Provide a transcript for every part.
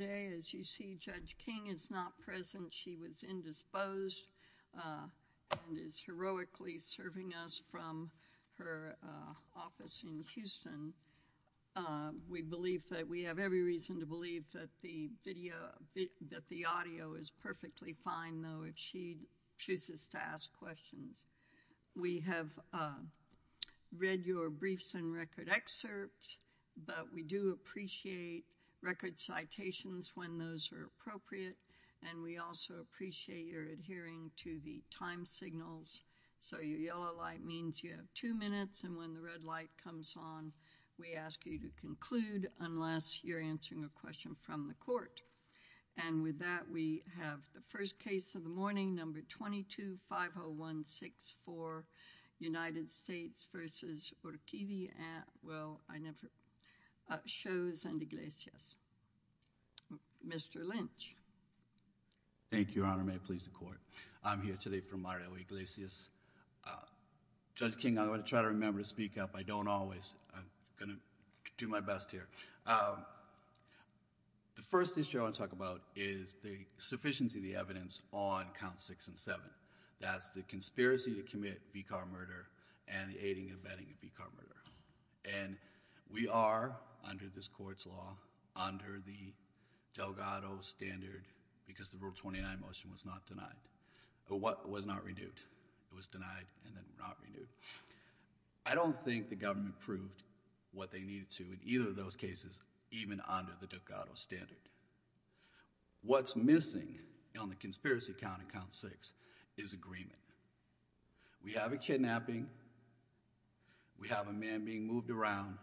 Today, as you see, Judge King is not present. She was indisposed and is heroically serving us from her office in Houston. We have every reason to believe that the audio is perfectly fine, though, if she chooses to ask questions. We have read your briefs and record excerpts, but we do appreciate record citations when those are appropriate, and we also appreciate your adhering to the time signals. So your yellow light means you have two minutes, and when the red light comes on, we ask you to conclude unless you're answering a question from the court. And with that, we have the first case of the morning, number 22-50164, Shows and Iglesias. Mr. Lynch. Thank you, Your Honor. May it please the court. I'm here today for Mario Iglesias. Judge King, I'm going to try to remember to speak up. I don't always. I'm going to do my best here. The first issue I want to talk about is the sufficiency of the evidence on Counts 6 and 7. That's the conspiracy to commit V-car murder and the aiding and abetting of V-car murder. And we are, under this court's law, under the Delgado standard because the Rule 29 motion was not denied. It was not renewed. It was denied and then not renewed. I don't think the government proved what they needed to in either of those cases, even under the Delgado standard. What's missing on the conspiracy count in Count 6 is agreement. We have a kidnapping. We have a man being moved around.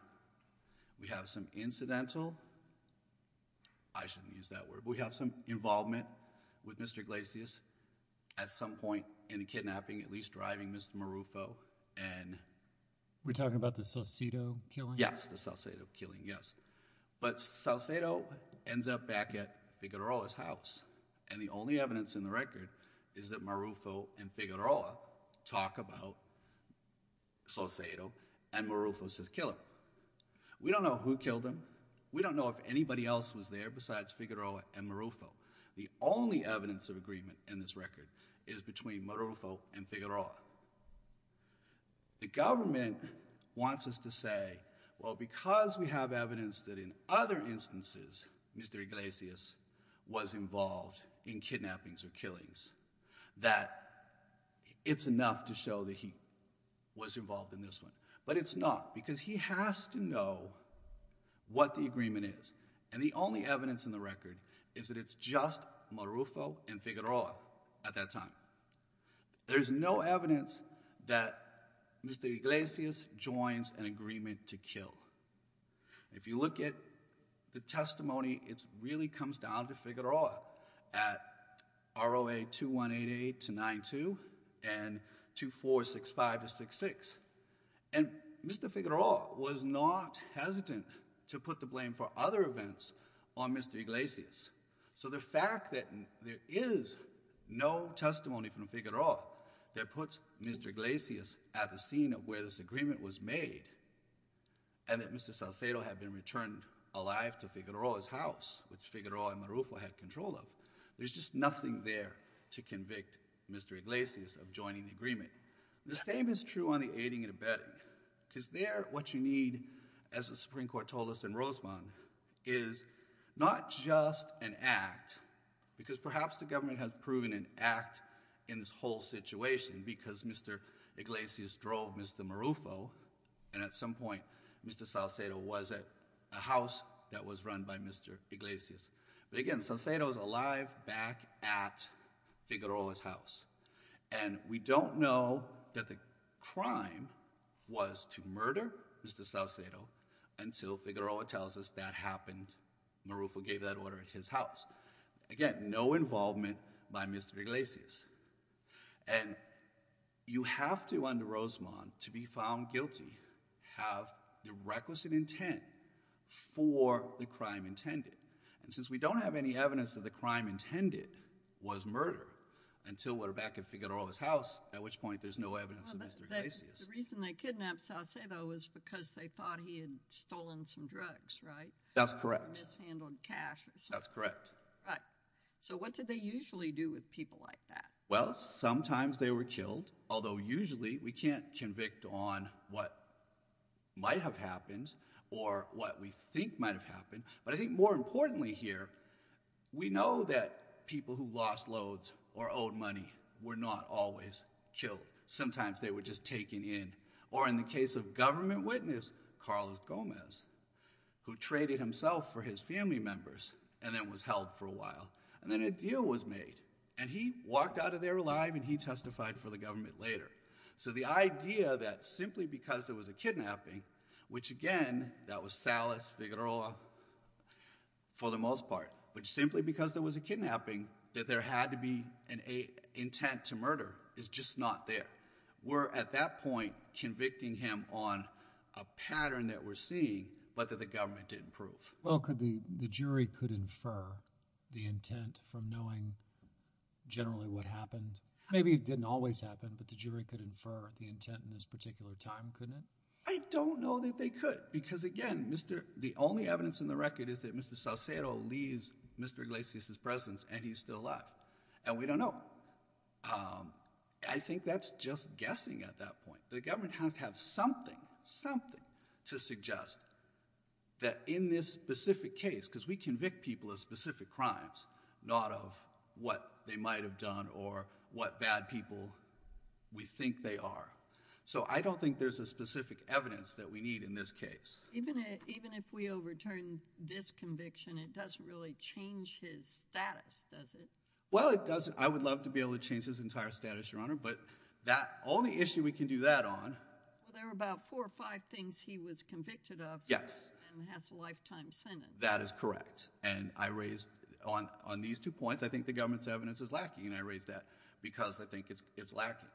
We have some incidental, I shouldn't use that word, but we have some involvement with Mr. Iglesias at some point in the kidnapping, at least driving Mr. Marufo. We're talking about the Salcedo killing? Yes, the Salcedo killing, yes. But Salcedo ends up back at Figueroa's house. And the only evidence in the record is that Marufo and Figueroa talk about Salcedo and Marufo says kill him. We don't know who killed him. We don't know if anybody else was there besides Figueroa and Marufo. The only evidence of agreement in this record is between Marufo and Figueroa. The government wants us to say, well, because we have evidence that in other cases we know that he was involved in this one. But it's not because he has to know what the agreement is. And the only evidence in the record is that it's just Marufo and Figueroa at that time. There's no evidence that Mr. Iglesias joins an agreement to kill. If you look at the testimony, it really comes down to Figueroa at ROA 2188-92 and 2465-66. And Mr. Figueroa was not hesitant to put the blame for other events on Mr. Iglesias. So the fact that there is no testimony from Figueroa that puts Mr. Iglesias at the scene of where this agreement was made and that Mr. Salcedo had been returned alive to Figueroa's house, which Figueroa and Marufo had control of, there's just nothing there to convict Mr. Iglesias of joining the agreement. The same is true on the aiding and abetting. Because there, what you need, as the Supreme Court told us in Rosamond, is not just an act, because perhaps the government has proven an act in this whole situation because Mr. Iglesias drove Mr. Marufo, and at some point Mr. Salcedo was at a house that was run by Mr. Iglesias. But again, Salcedo is alive back at Figueroa's house. And we don't know that the crime was to murder Mr. Salcedo until Figueroa tells us that happened, Marufo gave that order at his house. Again, no involvement by Mr. Iglesias. And you have to, under Rosamond, to be found guilty, have the requisite intent for the crime intended. And since we don't have any evidence that the crime intended was murder until we're back at Figueroa's house, at which point there's no evidence of Mr. Iglesias. The reason they kidnapped Salcedo was because they thought he had stolen some drugs, right? That's correct. Mishandled cash. That's correct. Right. So what do they usually do with people like that? Well, sometimes they were killed, although usually we can't convict on what might have happened, or what we think might have happened. But I think more importantly here, we know that people who lost loads or owed money were not always killed. Sometimes they were just taken in. Or in the case of government witness, Carlos Gomez, who traded himself for his family members and then was held for a while. And then a deal was made. And he walked out of there alive and he testified for the government later. So the idea that simply because there was a kidnapping, which again, that was Salas, Figueroa, for the most part, but simply because there was a kidnapping that there had to be an intent to murder is just not there. We're at that point convicting him on a pattern that we're seeing, but that the government didn't prove. Well, could the jury could infer the intent from knowing generally what happened? Maybe it didn't always happen, but the jury could infer the intent in this particular time, couldn't it? I don't know that they could. Because again, the only evidence in the record is that Mr. Salcedo leaves Mr. Iglesias' presence and he's still alive. And we don't know. I think that's just guessing at that point. The government has to have something, something to suggest that in this specific case, because we convict people of specific crimes, not of what they might have done or what bad people we think they are. So I don't think there's a specific evidence that we need in this case. Even if we overturn this conviction, it doesn't really change his status, does it? Well, it doesn't. I would love to be able to change his entire status, Your Honor. But that only issue we can do that on. Well, there were about four or five things he was convicted of. Yes. And has a lifetime sentence. That is correct. And I raised on these two points, I think the government's evidence is lacking. And I raised that because I think it's lacking.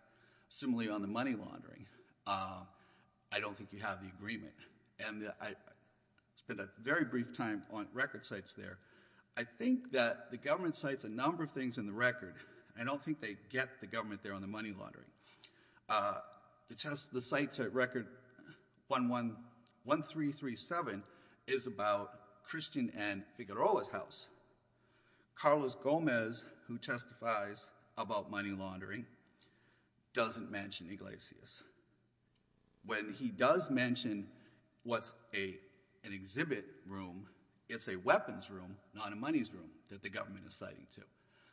Similarly, on the money laundering, I don't think you have the agreement. And I spent a very brief time on record sites there. I think that the government cites a number of things in the record. I don't think they get the government there on the money laundering. The sites at record 1337 is about Christian and Figueroa's house. Carlos Gomez, who testifies about money laundering, doesn't mention Iglesias. When he does mention what's an exhibit room, it's a weapons room, not a money's room that the government is citing to.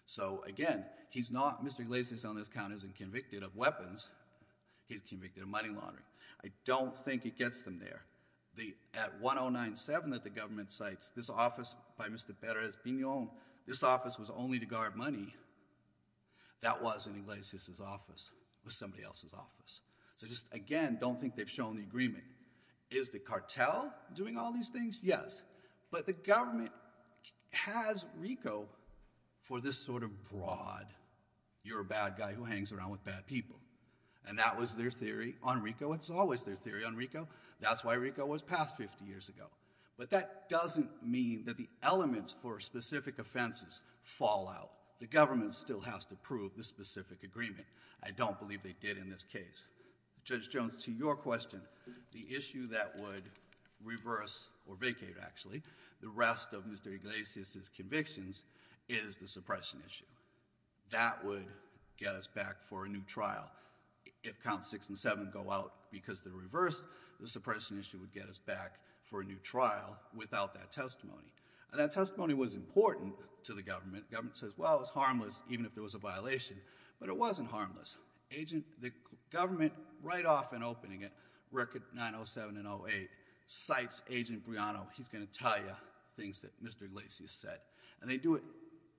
So, again, he's not, Mr. Iglesias on this count isn't convicted of weapons, he's convicted of money laundering. I don't think it gets them there. The, at 1097 that the government cites, this office by Mr. Perez-Piñon, this office was only to guard money. That wasn't Iglesias' office. It was somebody else's office. So just, again, don't think they've shown the agreement. Is the cartel doing all these things? Yes. But the government has RICO for this sort of broad, you're a bad guy who hangs around with bad people. And that was their theory on RICO. It's always their theory on RICO. That's why RICO was passed 50 years ago. But that doesn't mean that the elements for specific offenses fall out. The government still has to prove the specific agreement. I don't believe they did in this case. Judge Jones, to your question, the issue that would reverse or vacate, actually, the rest of Mr. Iglesias' convictions is the suppression issue. That would get us back for a new trial. If counts six and seven go out because they're reversed, the suppression issue would get us back for a new trial without that testimony. And that testimony was important to the government. Government says, well, it's harmless, even if there was a violation. But it wasn't harmless. The government, right off in opening it, record 907 and 08, cites Agent Briano. He's going to tell you things that Mr. Iglesias said. And they do it,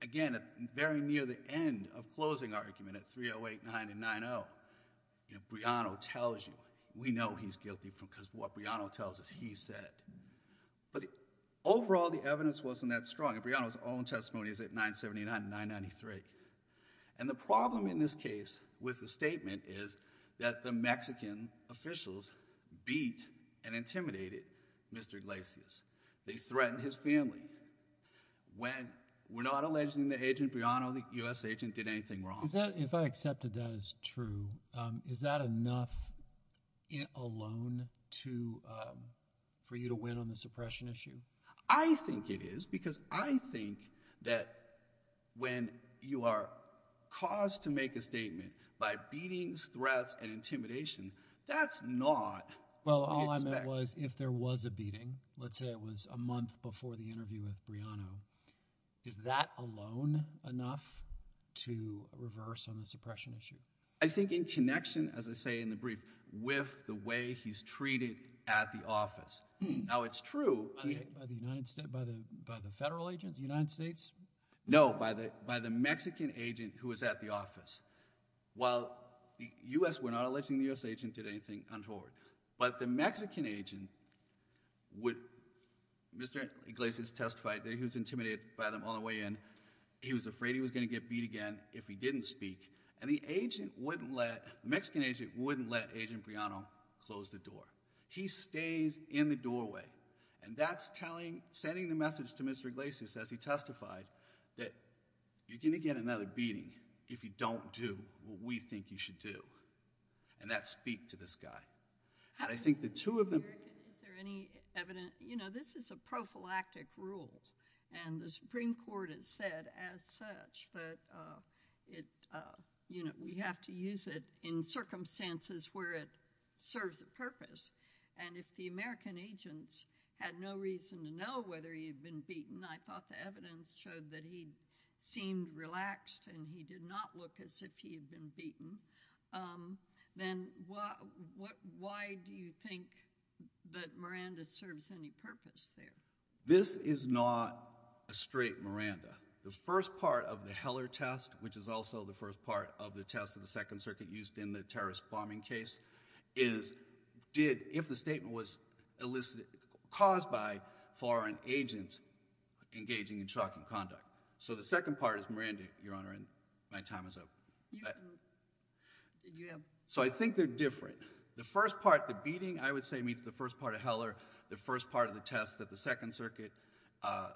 again, very near the end of closing argument at 308, 9, and 9-0. Briano tells you. We know he's guilty because what Briano tells us, he said. But overall, the evidence wasn't that strong. And Briano's own testimony is at 979 and 993. And the problem in this case with the statement is that the Mexican officials beat and intimidated Mr. Iglesias. They threatened his family. We're not alleging that Agent Briano, the US agent, did anything wrong. If I accepted that as true, is that enough alone for you to win on the suppression issue? I think it is, because I think that when you are caused to make a statement by beatings, threats, and intimidation, that's not what we expect. Well, all I meant was, if there was a beating, let's say it was a month before the interview with Briano, is that alone enough to reverse on the suppression issue? I think in connection, as I say in the brief, with the way he's treated at the office. Now, it's true. By the federal agents, the United States? No, by the Mexican agent who was at the office. While we're not alleging the US agent did anything untoward. But the Mexican agent would, Mr. Iglesias testified that he was intimidated by them all the way in. He was afraid he was going to get beat again if he didn't speak. And the Mexican agent wouldn't let Agent Briano close the door. He stays in the doorway. And that's sending the message to Mr. Iglesias, as he testified, that you're going to get another beating if you don't do what we think you should do. And that's speak to this guy. I think the two of them. Is there any evidence? You know, this is a prophylactic rule. And the Supreme Court has said, as such, that we have to use it in circumstances where it serves a purpose. And if the American agents had no reason to know whether he had been beaten, I thought the evidence showed that he seemed relaxed. And he did not look as if he had been beaten. Then why do you think that Miranda serves any purpose there? This is not a straight Miranda. The first part of the Heller test, which is also the first part of the test of the Second Circuit used in the terrorist bombing case, is did, if the statement was caused by foreign agents engaging in shocking conduct. So the second part is Miranda, Your Honor, and my time is up. So I think they're different. The first part, the beating, I would say, meets the first part of Heller, the first part of the test that the Second Circuit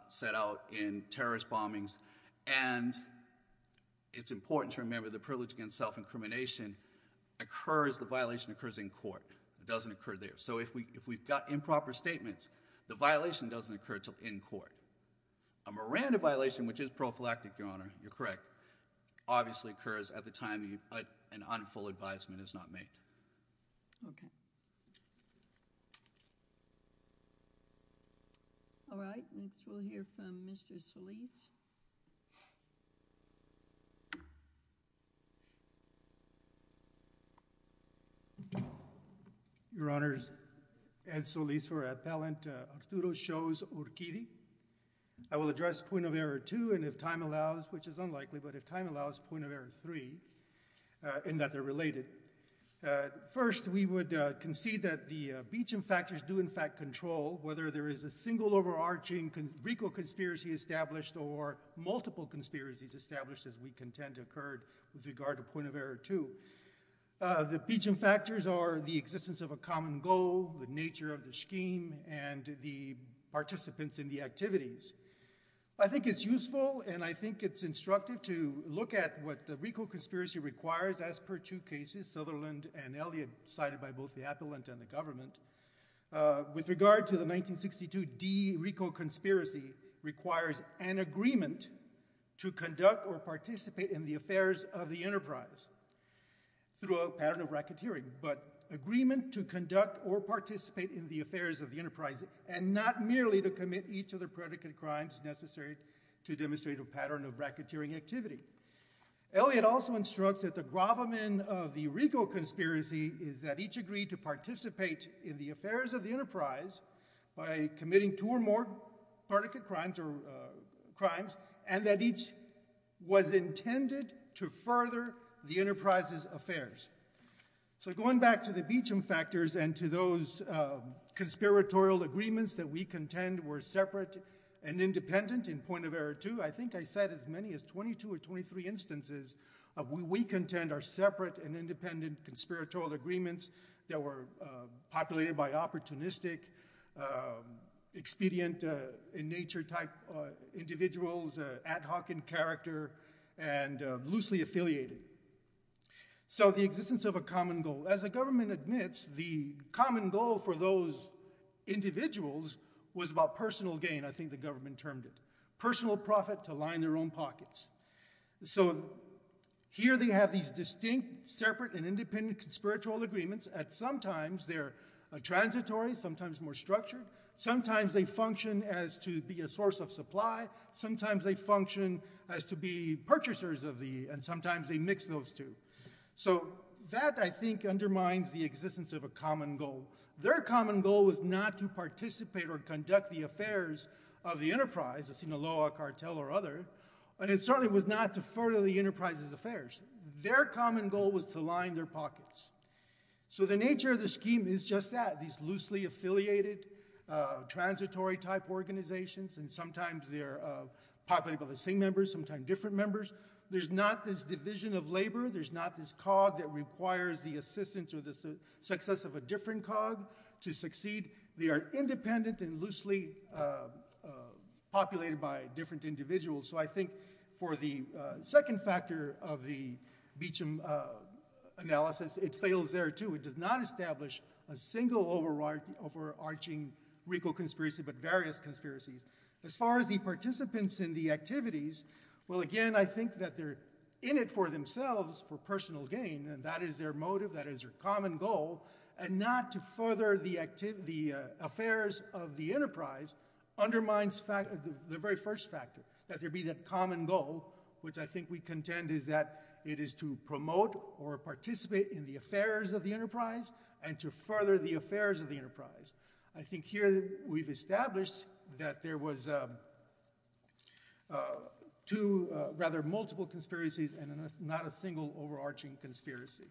set out in terrorist bombings. And it's important to remember the privilege against self-incrimination occurs, the violation occurs in court. It doesn't occur there. So if we've got improper statements, the violation doesn't occur till in court. A Miranda violation, which is prophylactic, Your Honor, you're correct, obviously occurs at the time an unfulfilled advisement is not made. OK. All right, next we'll hear from Mr. Solis. Your Honors, Ed Solis for appellant. Arturo Shows-Urquidy. I will address point of error two, and if time allows, which is unlikely, but if time allows, point of error three, in that they're related. First, we would concede that the beating factors do, in fact, control whether there is a single overarching recal conspiracy established or multiple conspiracies established, as we contend occurred with regard to point of error two. The beating factors are the existence of a common goal, the nature of the scheme, and the participants in the activities. I think it's useful, and I think it's instructive, to look at what the recal conspiracy requires as per two cases, Sutherland and Elliott, cited by both the appellant and the government. With regard to the 1962 D recal conspiracy, requires an agreement to conduct or participate in the affairs of the enterprise through a pattern of racketeering. But agreement to conduct or participate in the affairs of the enterprise, and not merely to commit each of the predicate crimes necessary to demonstrate a pattern of racketeering activity. Elliott also instructs that the gravamen of the recal conspiracy is that each agreed to participate in the affairs of the enterprise by committing two or more predicate crimes, So going back to the Beecham factors and to those conspiratorial agreements that we contend were separate and independent in point of error two, I think I said as many as 22 or 23 instances of what we contend are separate and independent conspiratorial agreements that were populated by opportunistic, expedient in nature type individuals, ad hoc in character, and loosely affiliated. So the existence of a common goal. As the government admits, the common goal for those individuals was about personal gain, I think the government termed it. Personal profit to line their own pockets. So here they have these distinct, separate, and independent conspiratorial agreements, and sometimes they're transitory, sometimes more structured, sometimes they function as to be a source of supply, sometimes they function as to be purchasers of the, and sometimes they mix those two. So that I think undermines the existence of a common goal. Their common goal was not to participate or conduct the affairs of the enterprise, the Sinaloa cartel or other. And it certainly was not to further the enterprise's affairs. Their common goal was to line their pockets. So the nature of the scheme is just that, these loosely affiliated transitory type organizations, and sometimes they're populated by the same members, sometimes different members. There's not this division of labor. There's not this cog that requires the assistance or the success of a different cog to succeed. They are independent and loosely populated by different individuals. So I think for the second factor of the Beecham analysis, it fails there too. It does not establish a single overarching RICO conspiracy, but various conspiracies. As far as the participants in the activities, well again, I think that they're in it for themselves, for personal gain. And that is their motive, that is their common goal. And not to further the activity affairs of the enterprise, undermines the very first factor, that there be that common goal, which I think we contend is that it is to promote or participate in the affairs of the enterprise, and to further the affairs of the enterprise. I think here we've established that there was two, rather multiple conspiracies, and not a single overarching conspiracy.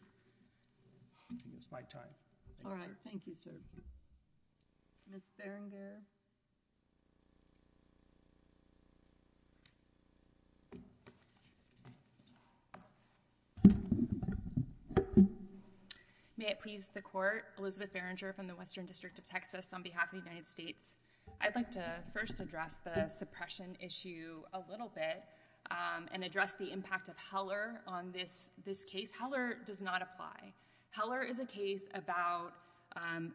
I think it's my time. All right, thank you, sir. Ms. Berenger. May it please the court. Elizabeth Berenger from the Western District of Texas, on behalf of the United States. I'd like to first address the suppression issue a little bit, and address the impact of Heller on this case. Heller does not apply. Heller is a case about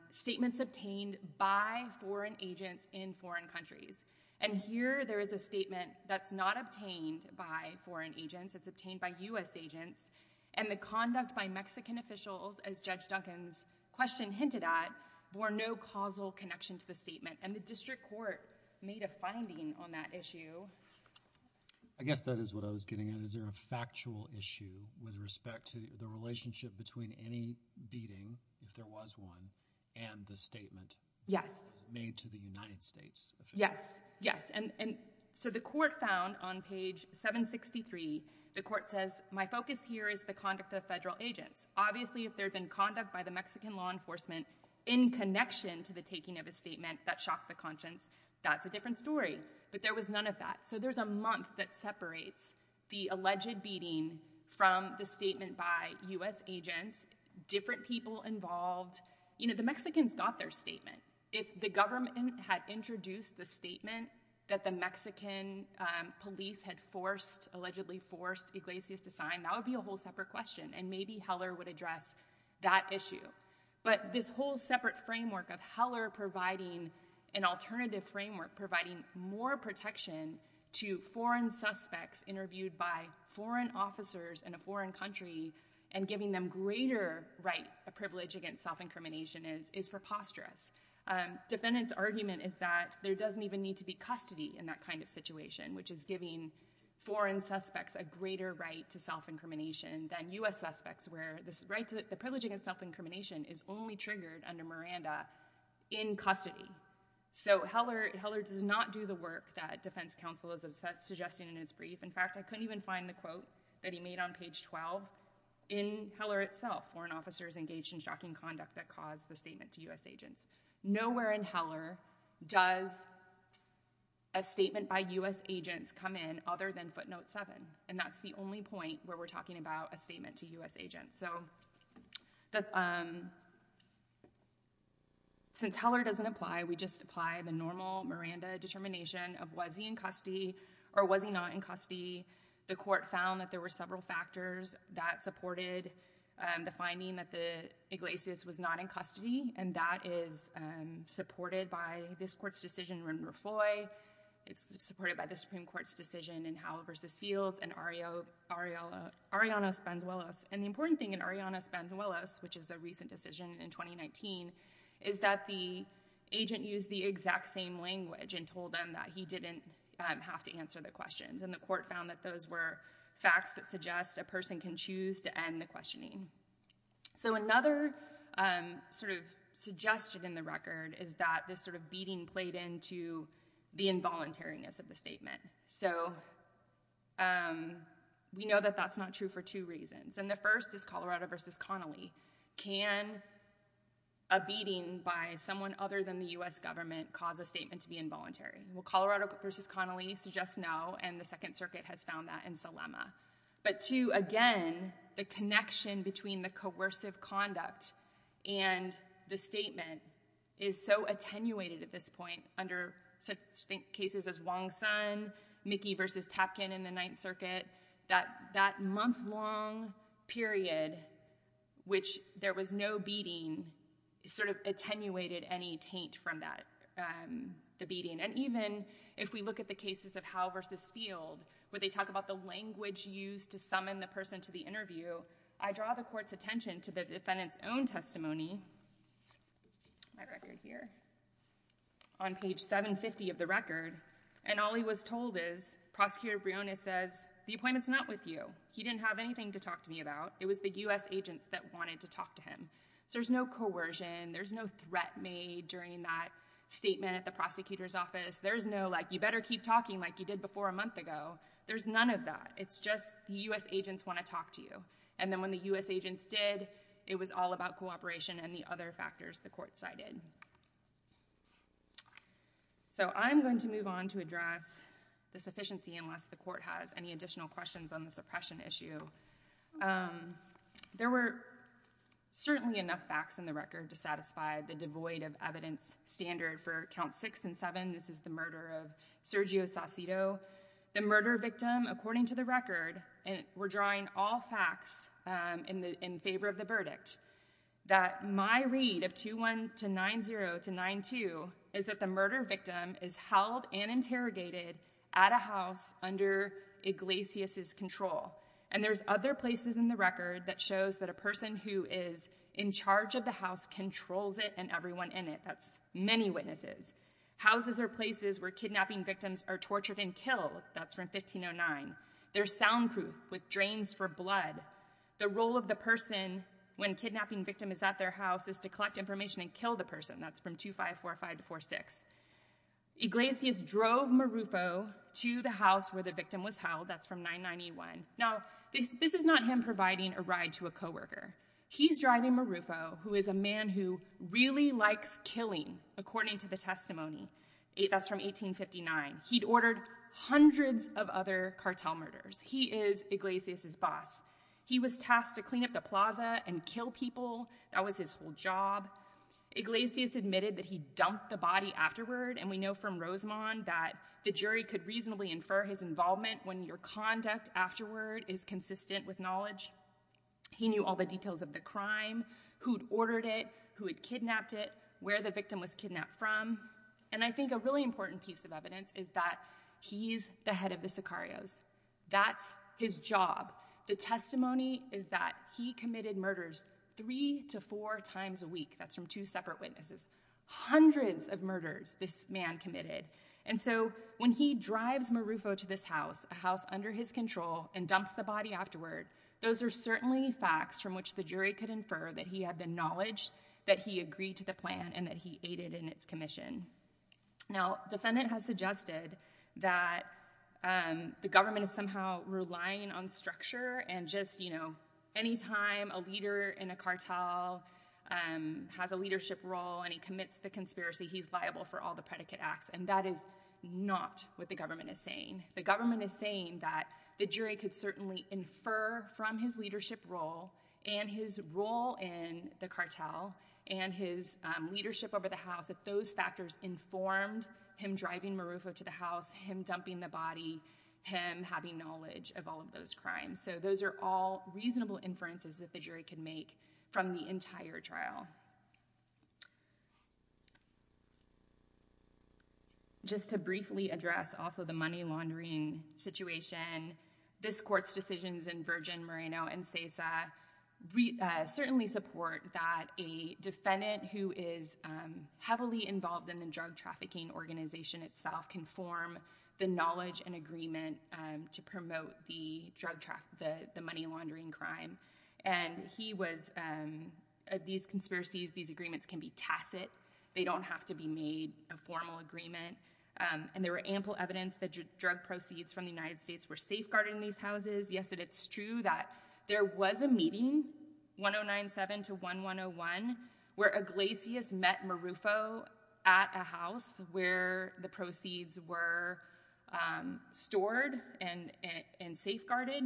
statements obtained by foreign agents in foreign countries. And here there is a statement that's not obtained by foreign agents, it's obtained by US agents. And the conduct by Mexican officials, as Judge Duncan's question hinted at, bore no causal connection to the statement. And the district court made a finding on that issue. I guess that is what I was getting at. Is there a factual issue with respect to the relationship between any beating, if there was one, and the statement made to the United States officials? Yes, yes. And so the court found on page 763, the court says, my focus here is the conduct of federal agents. Obviously, if there had been conduct by the Mexican law enforcement, in connection to the taking of a statement that shocked the conscience, that's a different story. But there was none of that. So there's a month that separates the alleged beating from the statement by US agents, different people involved. The Mexicans got their statement. If the government had introduced the statement that the Mexican police had allegedly forced Iglesias to sign, that would be a whole separate question. And maybe Heller would address that issue. But this whole separate framework of Heller providing an alternative framework, providing more protection to foreign suspects interviewed by foreign officers in a foreign country, and giving them greater right, a privilege against self-incrimination, is preposterous. Defendant's argument is that there doesn't even need to be custody in that kind of situation, which is giving foreign suspects a greater right to self-incrimination than US suspects, where the right to the privilege against self-incrimination is only triggered under Miranda in custody. So Heller does not do the work that Defense Counsel is suggesting in its brief. In fact, I couldn't even find the quote that he made on page 12. In Heller itself, foreign officers engaged in shocking conduct that caused the statement to US agents. Nowhere in Heller does a statement by US agents come in other than footnote seven. And that's the only point where we're talking about a statement to US agents. So since Heller doesn't apply, we just apply the normal Miranda determination of was he in custody or was he not in custody? The court found that there were several factors that supported the finding that the Iglesias was not in custody, and that is supported by this court's decision. And remember Foy, it's supported by the Supreme Court's decision in Howell versus Fields and Arianna Spanzuelos. And the important thing in Arianna Spanzuelos, which is a recent decision in 2019, is that the agent used the exact same language and told them that he didn't have to answer the questions. And the court found that those were facts that suggest a person can choose to end the questioning. So another sort of suggestion in the record is that this sort of contributed into the involuntariness of the statement. So we know that that's not true for two reasons. And the first is Colorado versus Connolly. Can a beating by someone other than the US government cause a statement to be involuntary? Well, Colorado versus Connolly suggests no, and the Second Circuit has found that in Salema. But two, again, the connection between the coercive conduct and the statement is so attenuated at this point under cases as Wong-Sun, Mickey versus Tapkin in the Ninth Circuit, that that month-long period, which there was no beating, sort of attenuated any taint from that, the beating. And even if we look at the cases of Howell versus Field, where they talk about the language used to summon the person to the interview. I draw the court's attention to the defendant's own testimony, my record here, on page 750 of the record. And all he was told is, Prosecutor Briones says, the appointment's not with you. He didn't have anything to talk to me about. It was the US agents that wanted to talk to him. So there's no coercion, there's no threat made during that statement at the prosecutor's office. There's no, you better keep talking like you did before a month ago. There's none of that. It's just the US agents want to talk to you. And then when the US agents did, it was all about cooperation and the other factors the court cited. So I'm going to move on to address the sufficiency, unless the court has any additional questions on the suppression issue. There were certainly enough facts in the record to satisfy the devoid of evidence standard for count six and seven. This is the murder of Sergio Saucito. The murder victim, according to the record, and we're drawing all facts in favor of the verdict. That my read of 2-1 to 9-0 to 9-2 is that the murder victim is held and interrogated at a house under Iglesias' control. And there's other places in the record that shows that a person who is in charge of the house controls it and everyone in it, that's many witnesses. Houses are places where kidnapping victims are tortured and killed. That's from 1509. They're soundproof with drains for blood. The role of the person when a kidnapping victim is at their house is to collect information and kill the person. That's from 2545 to 46. Iglesias drove Marufo to the house where the victim was held. That's from 991. Now, this is not him providing a ride to a coworker. He's driving Marufo, who is a man who really likes killing, according to the testimony. That's from 1859. He'd ordered hundreds of other cartel murders. He is Iglesias' boss. He was tasked to clean up the plaza and kill people. That was his whole job. Iglesias admitted that he dumped the body afterward. And we know from Rosamond that the jury could reasonably infer his involvement when your conduct afterward is consistent with knowledge. He knew all the details of the crime, who'd ordered it, who had kidnapped it, where the victim was kidnapped from. And I think a really important piece of evidence is that he's the head of the Sicarios. That's his job. The testimony is that he committed murders three to four times a week. That's from two separate witnesses. Hundreds of murders this man committed. And so when he drives Marufo to this house, a house under his control, and dumps the body afterward, those are certainly facts from which the jury could and that he aided in its commission. Now, defendant has suggested that the government is somehow relying on structure and just any time a leader in a cartel has a leadership role and he commits the conspiracy, he's liable for all the predicate acts. And that is not what the government is saying. The government is saying that the jury could certainly infer from his leadership role and his role in the cartel and his leadership over the house that those factors informed him driving Marufo to the house, him dumping the body, him having knowledge of all of those crimes. So those are all reasonable inferences that the jury can make from the entire trial. Just to briefly address also the money laundering situation, this court's decisions in Virgin, Moreno, and SESA certainly support that a defendant who is heavily involved in the drug trafficking organization itself can form the knowledge and agreement to promote the money laundering crime. And he was, these conspiracies, these agreements can be tacit. They don't have to be made a formal agreement. And there were ample evidence that drug proceeds from the United States were safeguarded in these houses. Yes, it's true that there was a meeting, 1097 to 1101, where Iglesias met Marufo at a house where the proceeds were stored and safeguarded,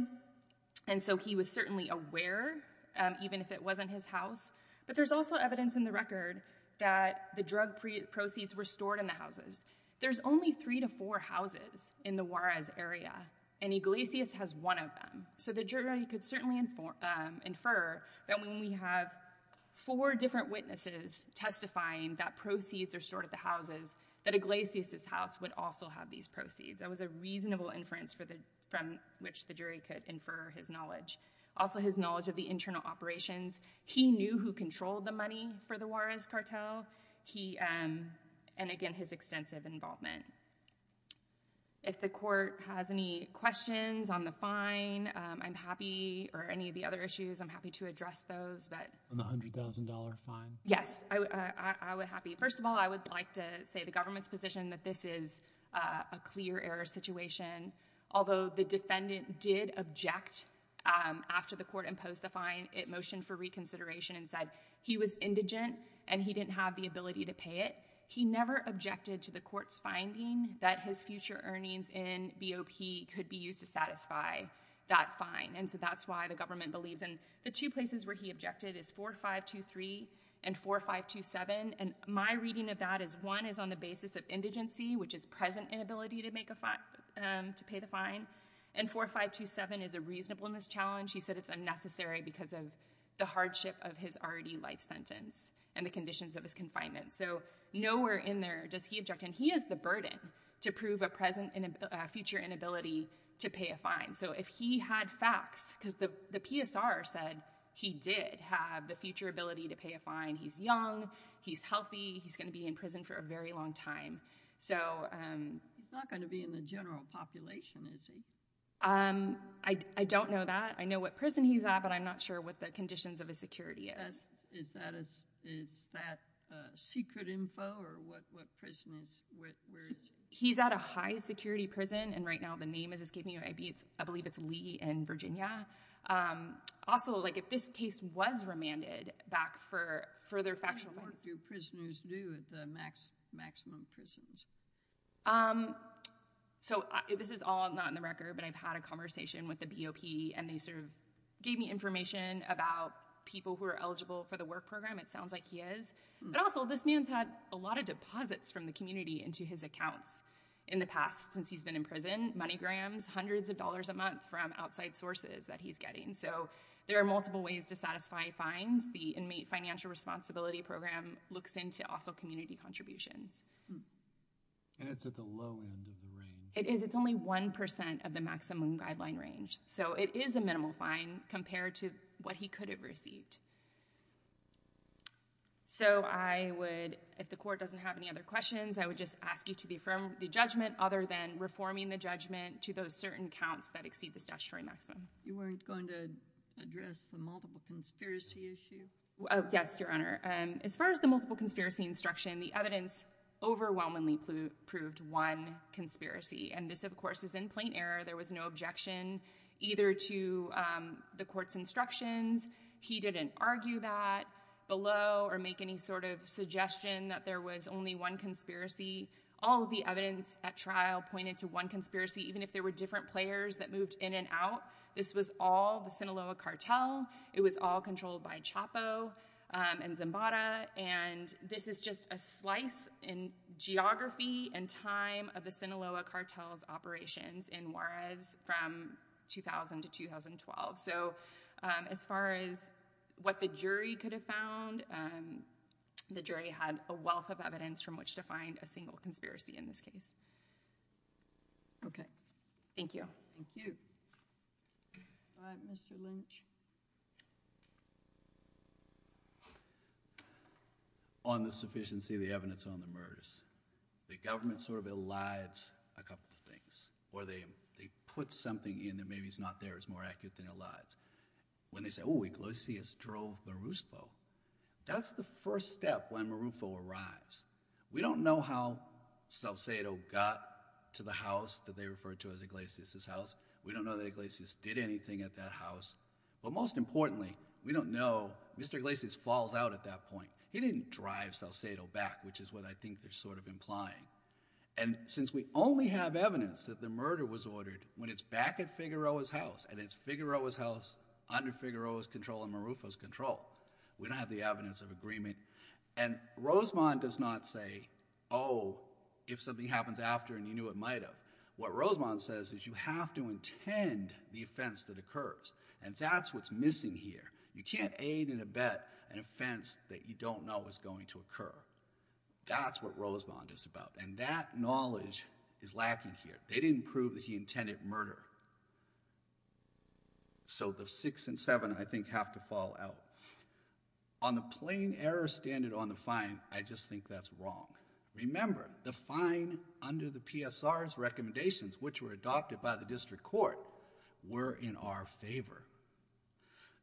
and so he was certainly aware, even if it wasn't his house. But there's also evidence in the record that the drug proceeds were stored in the houses. There's only three to four houses in the Juarez area, and Iglesias has one of them. So the jury could certainly infer that when we have four different witnesses testifying that proceeds are stored at the houses, that Iglesias' house would also have these proceeds. That was a reasonable inference from which the jury could infer his knowledge. Also his knowledge of the internal operations. He knew who controlled the money for the Juarez cartel. He, and again, his extensive involvement. If the court has any questions on the fine, I'm happy, or any of the other issues, I'm happy to address those. But- On the $100,000 fine? Yes, I would happy. First of all, I would like to say the government's position that this is a clear error situation. Although the defendant did object after the court imposed the fine, it motioned for reconsideration and said he was indigent and he didn't have the ability to pay it. He never objected to the court's finding that his future earnings in BOP could be used to satisfy that fine, and so that's why the government believes. And the two places where he objected is 4523 and 4527, and my reading of that is one is on the basis of indigency, which is present inability to pay the fine. And 4527 is a reasonableness challenge. He said it's unnecessary because of the hardship of his already life sentence and the conditions of his confinement. So nowhere in there does he object, and he has the burden to prove a future inability to pay a fine. So if he had facts, because the PSR said he did have the future ability to pay a fine. He's young, he's healthy, he's gonna be in prison for a very long time. So- He's not gonna be in the general population, is he? I don't know that. I know what prison he's at, but I'm not sure what the conditions of his security is. Is that a secret info, or what prison is, where is he? He's at a high security prison, and right now the name is escaping me. I believe it's Lee in Virginia. Also, if this case was remanded back for further factual- How many more of your prisoners do at the maximum prisons? So this is all not in the record, but I've had a conversation with the BOP, and they sort of gave me information about people who are eligible for the work program. It sounds like he is. But also, this man's had a lot of deposits from the community into his accounts in the past, since he's been in prison. Money grams, hundreds of dollars a month from outside sources that he's getting. So there are multiple ways to satisfy fines. The Inmate Financial Responsibility Program looks into also community contributions. And it's at the low end of the range. It is, it's only 1% of the maximum guideline range. So it is a minimal fine compared to what he could have received. So I would, if the court doesn't have any other questions, I would just ask you to affirm the judgment, other than reforming the judgment to those certain counts that exceed the statutory maximum. You weren't going to address the multiple conspiracy issue? Yes, Your Honor. As far as the multiple conspiracy instruction, the evidence overwhelmingly proved one conspiracy. And this, of course, is in plain error. There was no objection either to the court's instructions. He didn't argue that below or make any sort of suggestion that there was only one conspiracy. All of the evidence at trial pointed to one conspiracy, even if there were different players that moved in and out. This was all the Sinaloa cartel. It was all controlled by Chapo and Zimbada. And this is just a slice in geography and time of the Sinaloa cartel's operations in Juarez from 2000 to 2012. So as far as what the jury could have found, the jury had a wealth of evidence from which to find a single conspiracy in this case. Okay. Thank you. Thank you. All right, Mr. Lynch. On the sufficiency of the evidence on the murders. The government sort of elides a couple of things, or they put something in that maybe is not theirs, more accurate than elides. When they say, oh, Iglesias drove Marufo, that's the first step when Marufo arrives. We don't know how Salcedo got to the house that they refer to as Iglesias' house. We don't know that Iglesias did anything at that house. But most importantly, we don't know, Mr. Iglesias falls out at that point. He didn't drive Salcedo back, which is what I think they're sort of implying. And since we only have evidence that the murder was ordered when it's back at Figueroa's house, and it's Figueroa's house under Figueroa's control and Marufo's control, we don't have the evidence of agreement. And Rosemond does not say, if something happens after and you knew it might have. What Rosemond says is you have to intend the offense that occurs. And that's what's missing here. You can't aid and abet an offense that you don't know is going to occur. That's what Rosemond is about, and that knowledge is lacking here. They didn't prove that he intended murder. So the six and seven, I think, have to fall out. On the plain error standard on the fine, I just think that's wrong. Remember, the fine under the PSR's recommendations, which were adopted by the district court, were in our favor.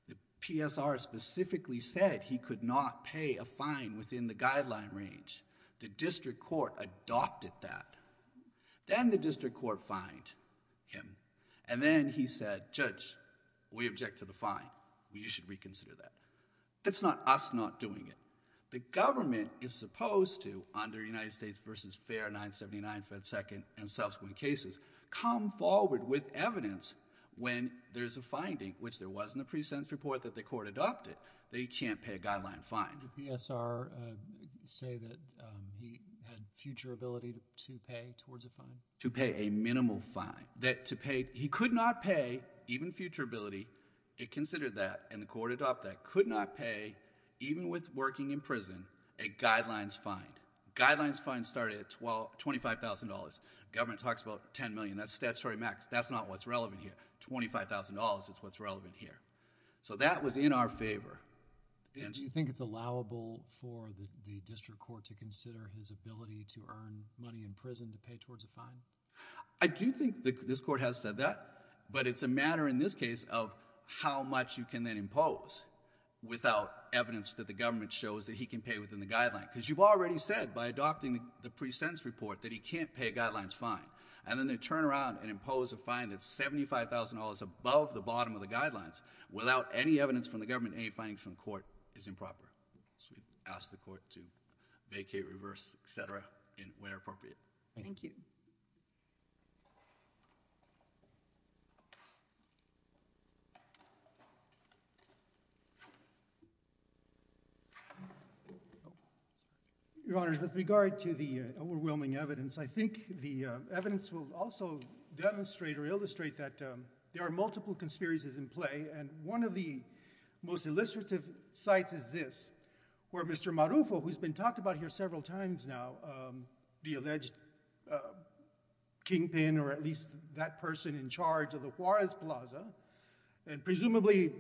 The PSR specifically said he could not pay a fine within the guideline range. The district court adopted that. Then the district court fined him. And then he said, judge, we object to the fine. You should reconsider that. That's not us not doing it. The government is supposed to, under United States versus Fair 979, Fed Second, and subsequent cases, come forward with evidence when there's a finding, which there was in the pre-sentence report that the court adopted, that he can't pay a guideline fine. Did the PSR say that he had future ability to pay towards a fine? To pay a minimal fine. He could not pay, even future ability, it considered that. And the court adopted that. Could not pay, even with working in prison, a guidelines fine. Guidelines fines start at $25,000. Government talks about $10 million. That's statutory max. That's not what's relevant here. $25,000 is what's relevant here. So that was in our favor. And do you think it's allowable for the district court to consider his ability to earn money in prison to pay towards a fine? I do think this court has said that. But it's a matter, in this case, of how much you can then impose without evidence that the government shows that he can pay within the guideline. Because you've already said, by adopting the pre-sentence report, that he can't pay guidelines fine. And then they turn around and impose a fine that's $75,000 above the bottom of the guidelines without any evidence from the government, any findings from the court, is improper. So we ask the court to vacate, reverse, et cetera, and where appropriate. Thank you. Your Honors, with regard to the overwhelming evidence, I think the evidence will also demonstrate or illustrate that there are multiple conspiracies in play. And one of the most illustrative sites is this, where Mr. Marufo, who's been talked about here several times now, the alleged kingpin, or at least that person in charge of the Juarez Plaza, and presumably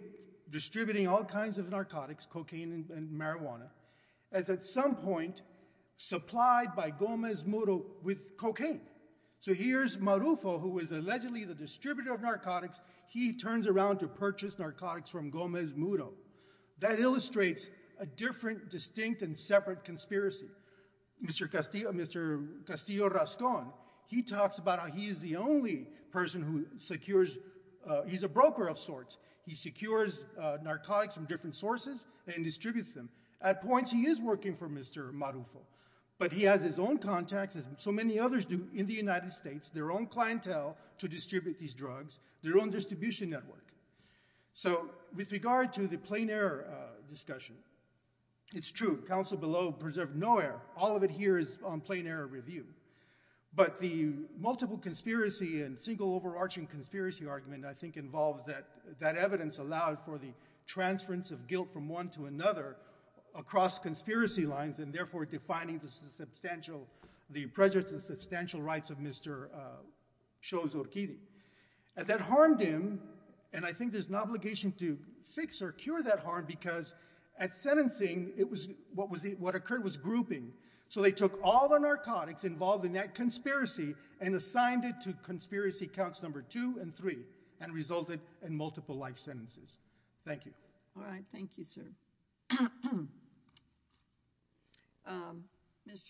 distributing all kinds of narcotics, cocaine and marijuana, is at some point supplied by Gomez Muro with cocaine. So here's Marufo, who is allegedly the distributor of narcotics. He turns around to purchase narcotics from Gomez Muro. That illustrates a different, distinct, and separate conspiracy. Mr. Castillo Rascón, he talks about how he is the only person who secures, he's a broker of sorts. He secures narcotics from different sources and distributes them. At points, he is working for Mr. Marufo. But he has his own contacts, as so many others do in the United States, their own clientele to distribute these drugs, their own distribution network. So with regard to the plain error discussion, it's true. Counsel below preserved no error. All of it here is on plain error review. But the multiple conspiracy and single overarching conspiracy argument, I think, involves that that evidence allowed for the transference of guilt from one to another across conspiracy lines, and therefore defining the substantial, the prejudices, the substantial rights of Mr. Sho's Orchidi. That harmed him. And I think there's an obligation to fix or cure that harm. Because at sentencing, what occurred was grouping. So they took all the narcotics involved in that conspiracy and assigned it to conspiracy counts number two and three, and resulted in multiple life sentences. Thank you. All right, thank you, sir. Mr.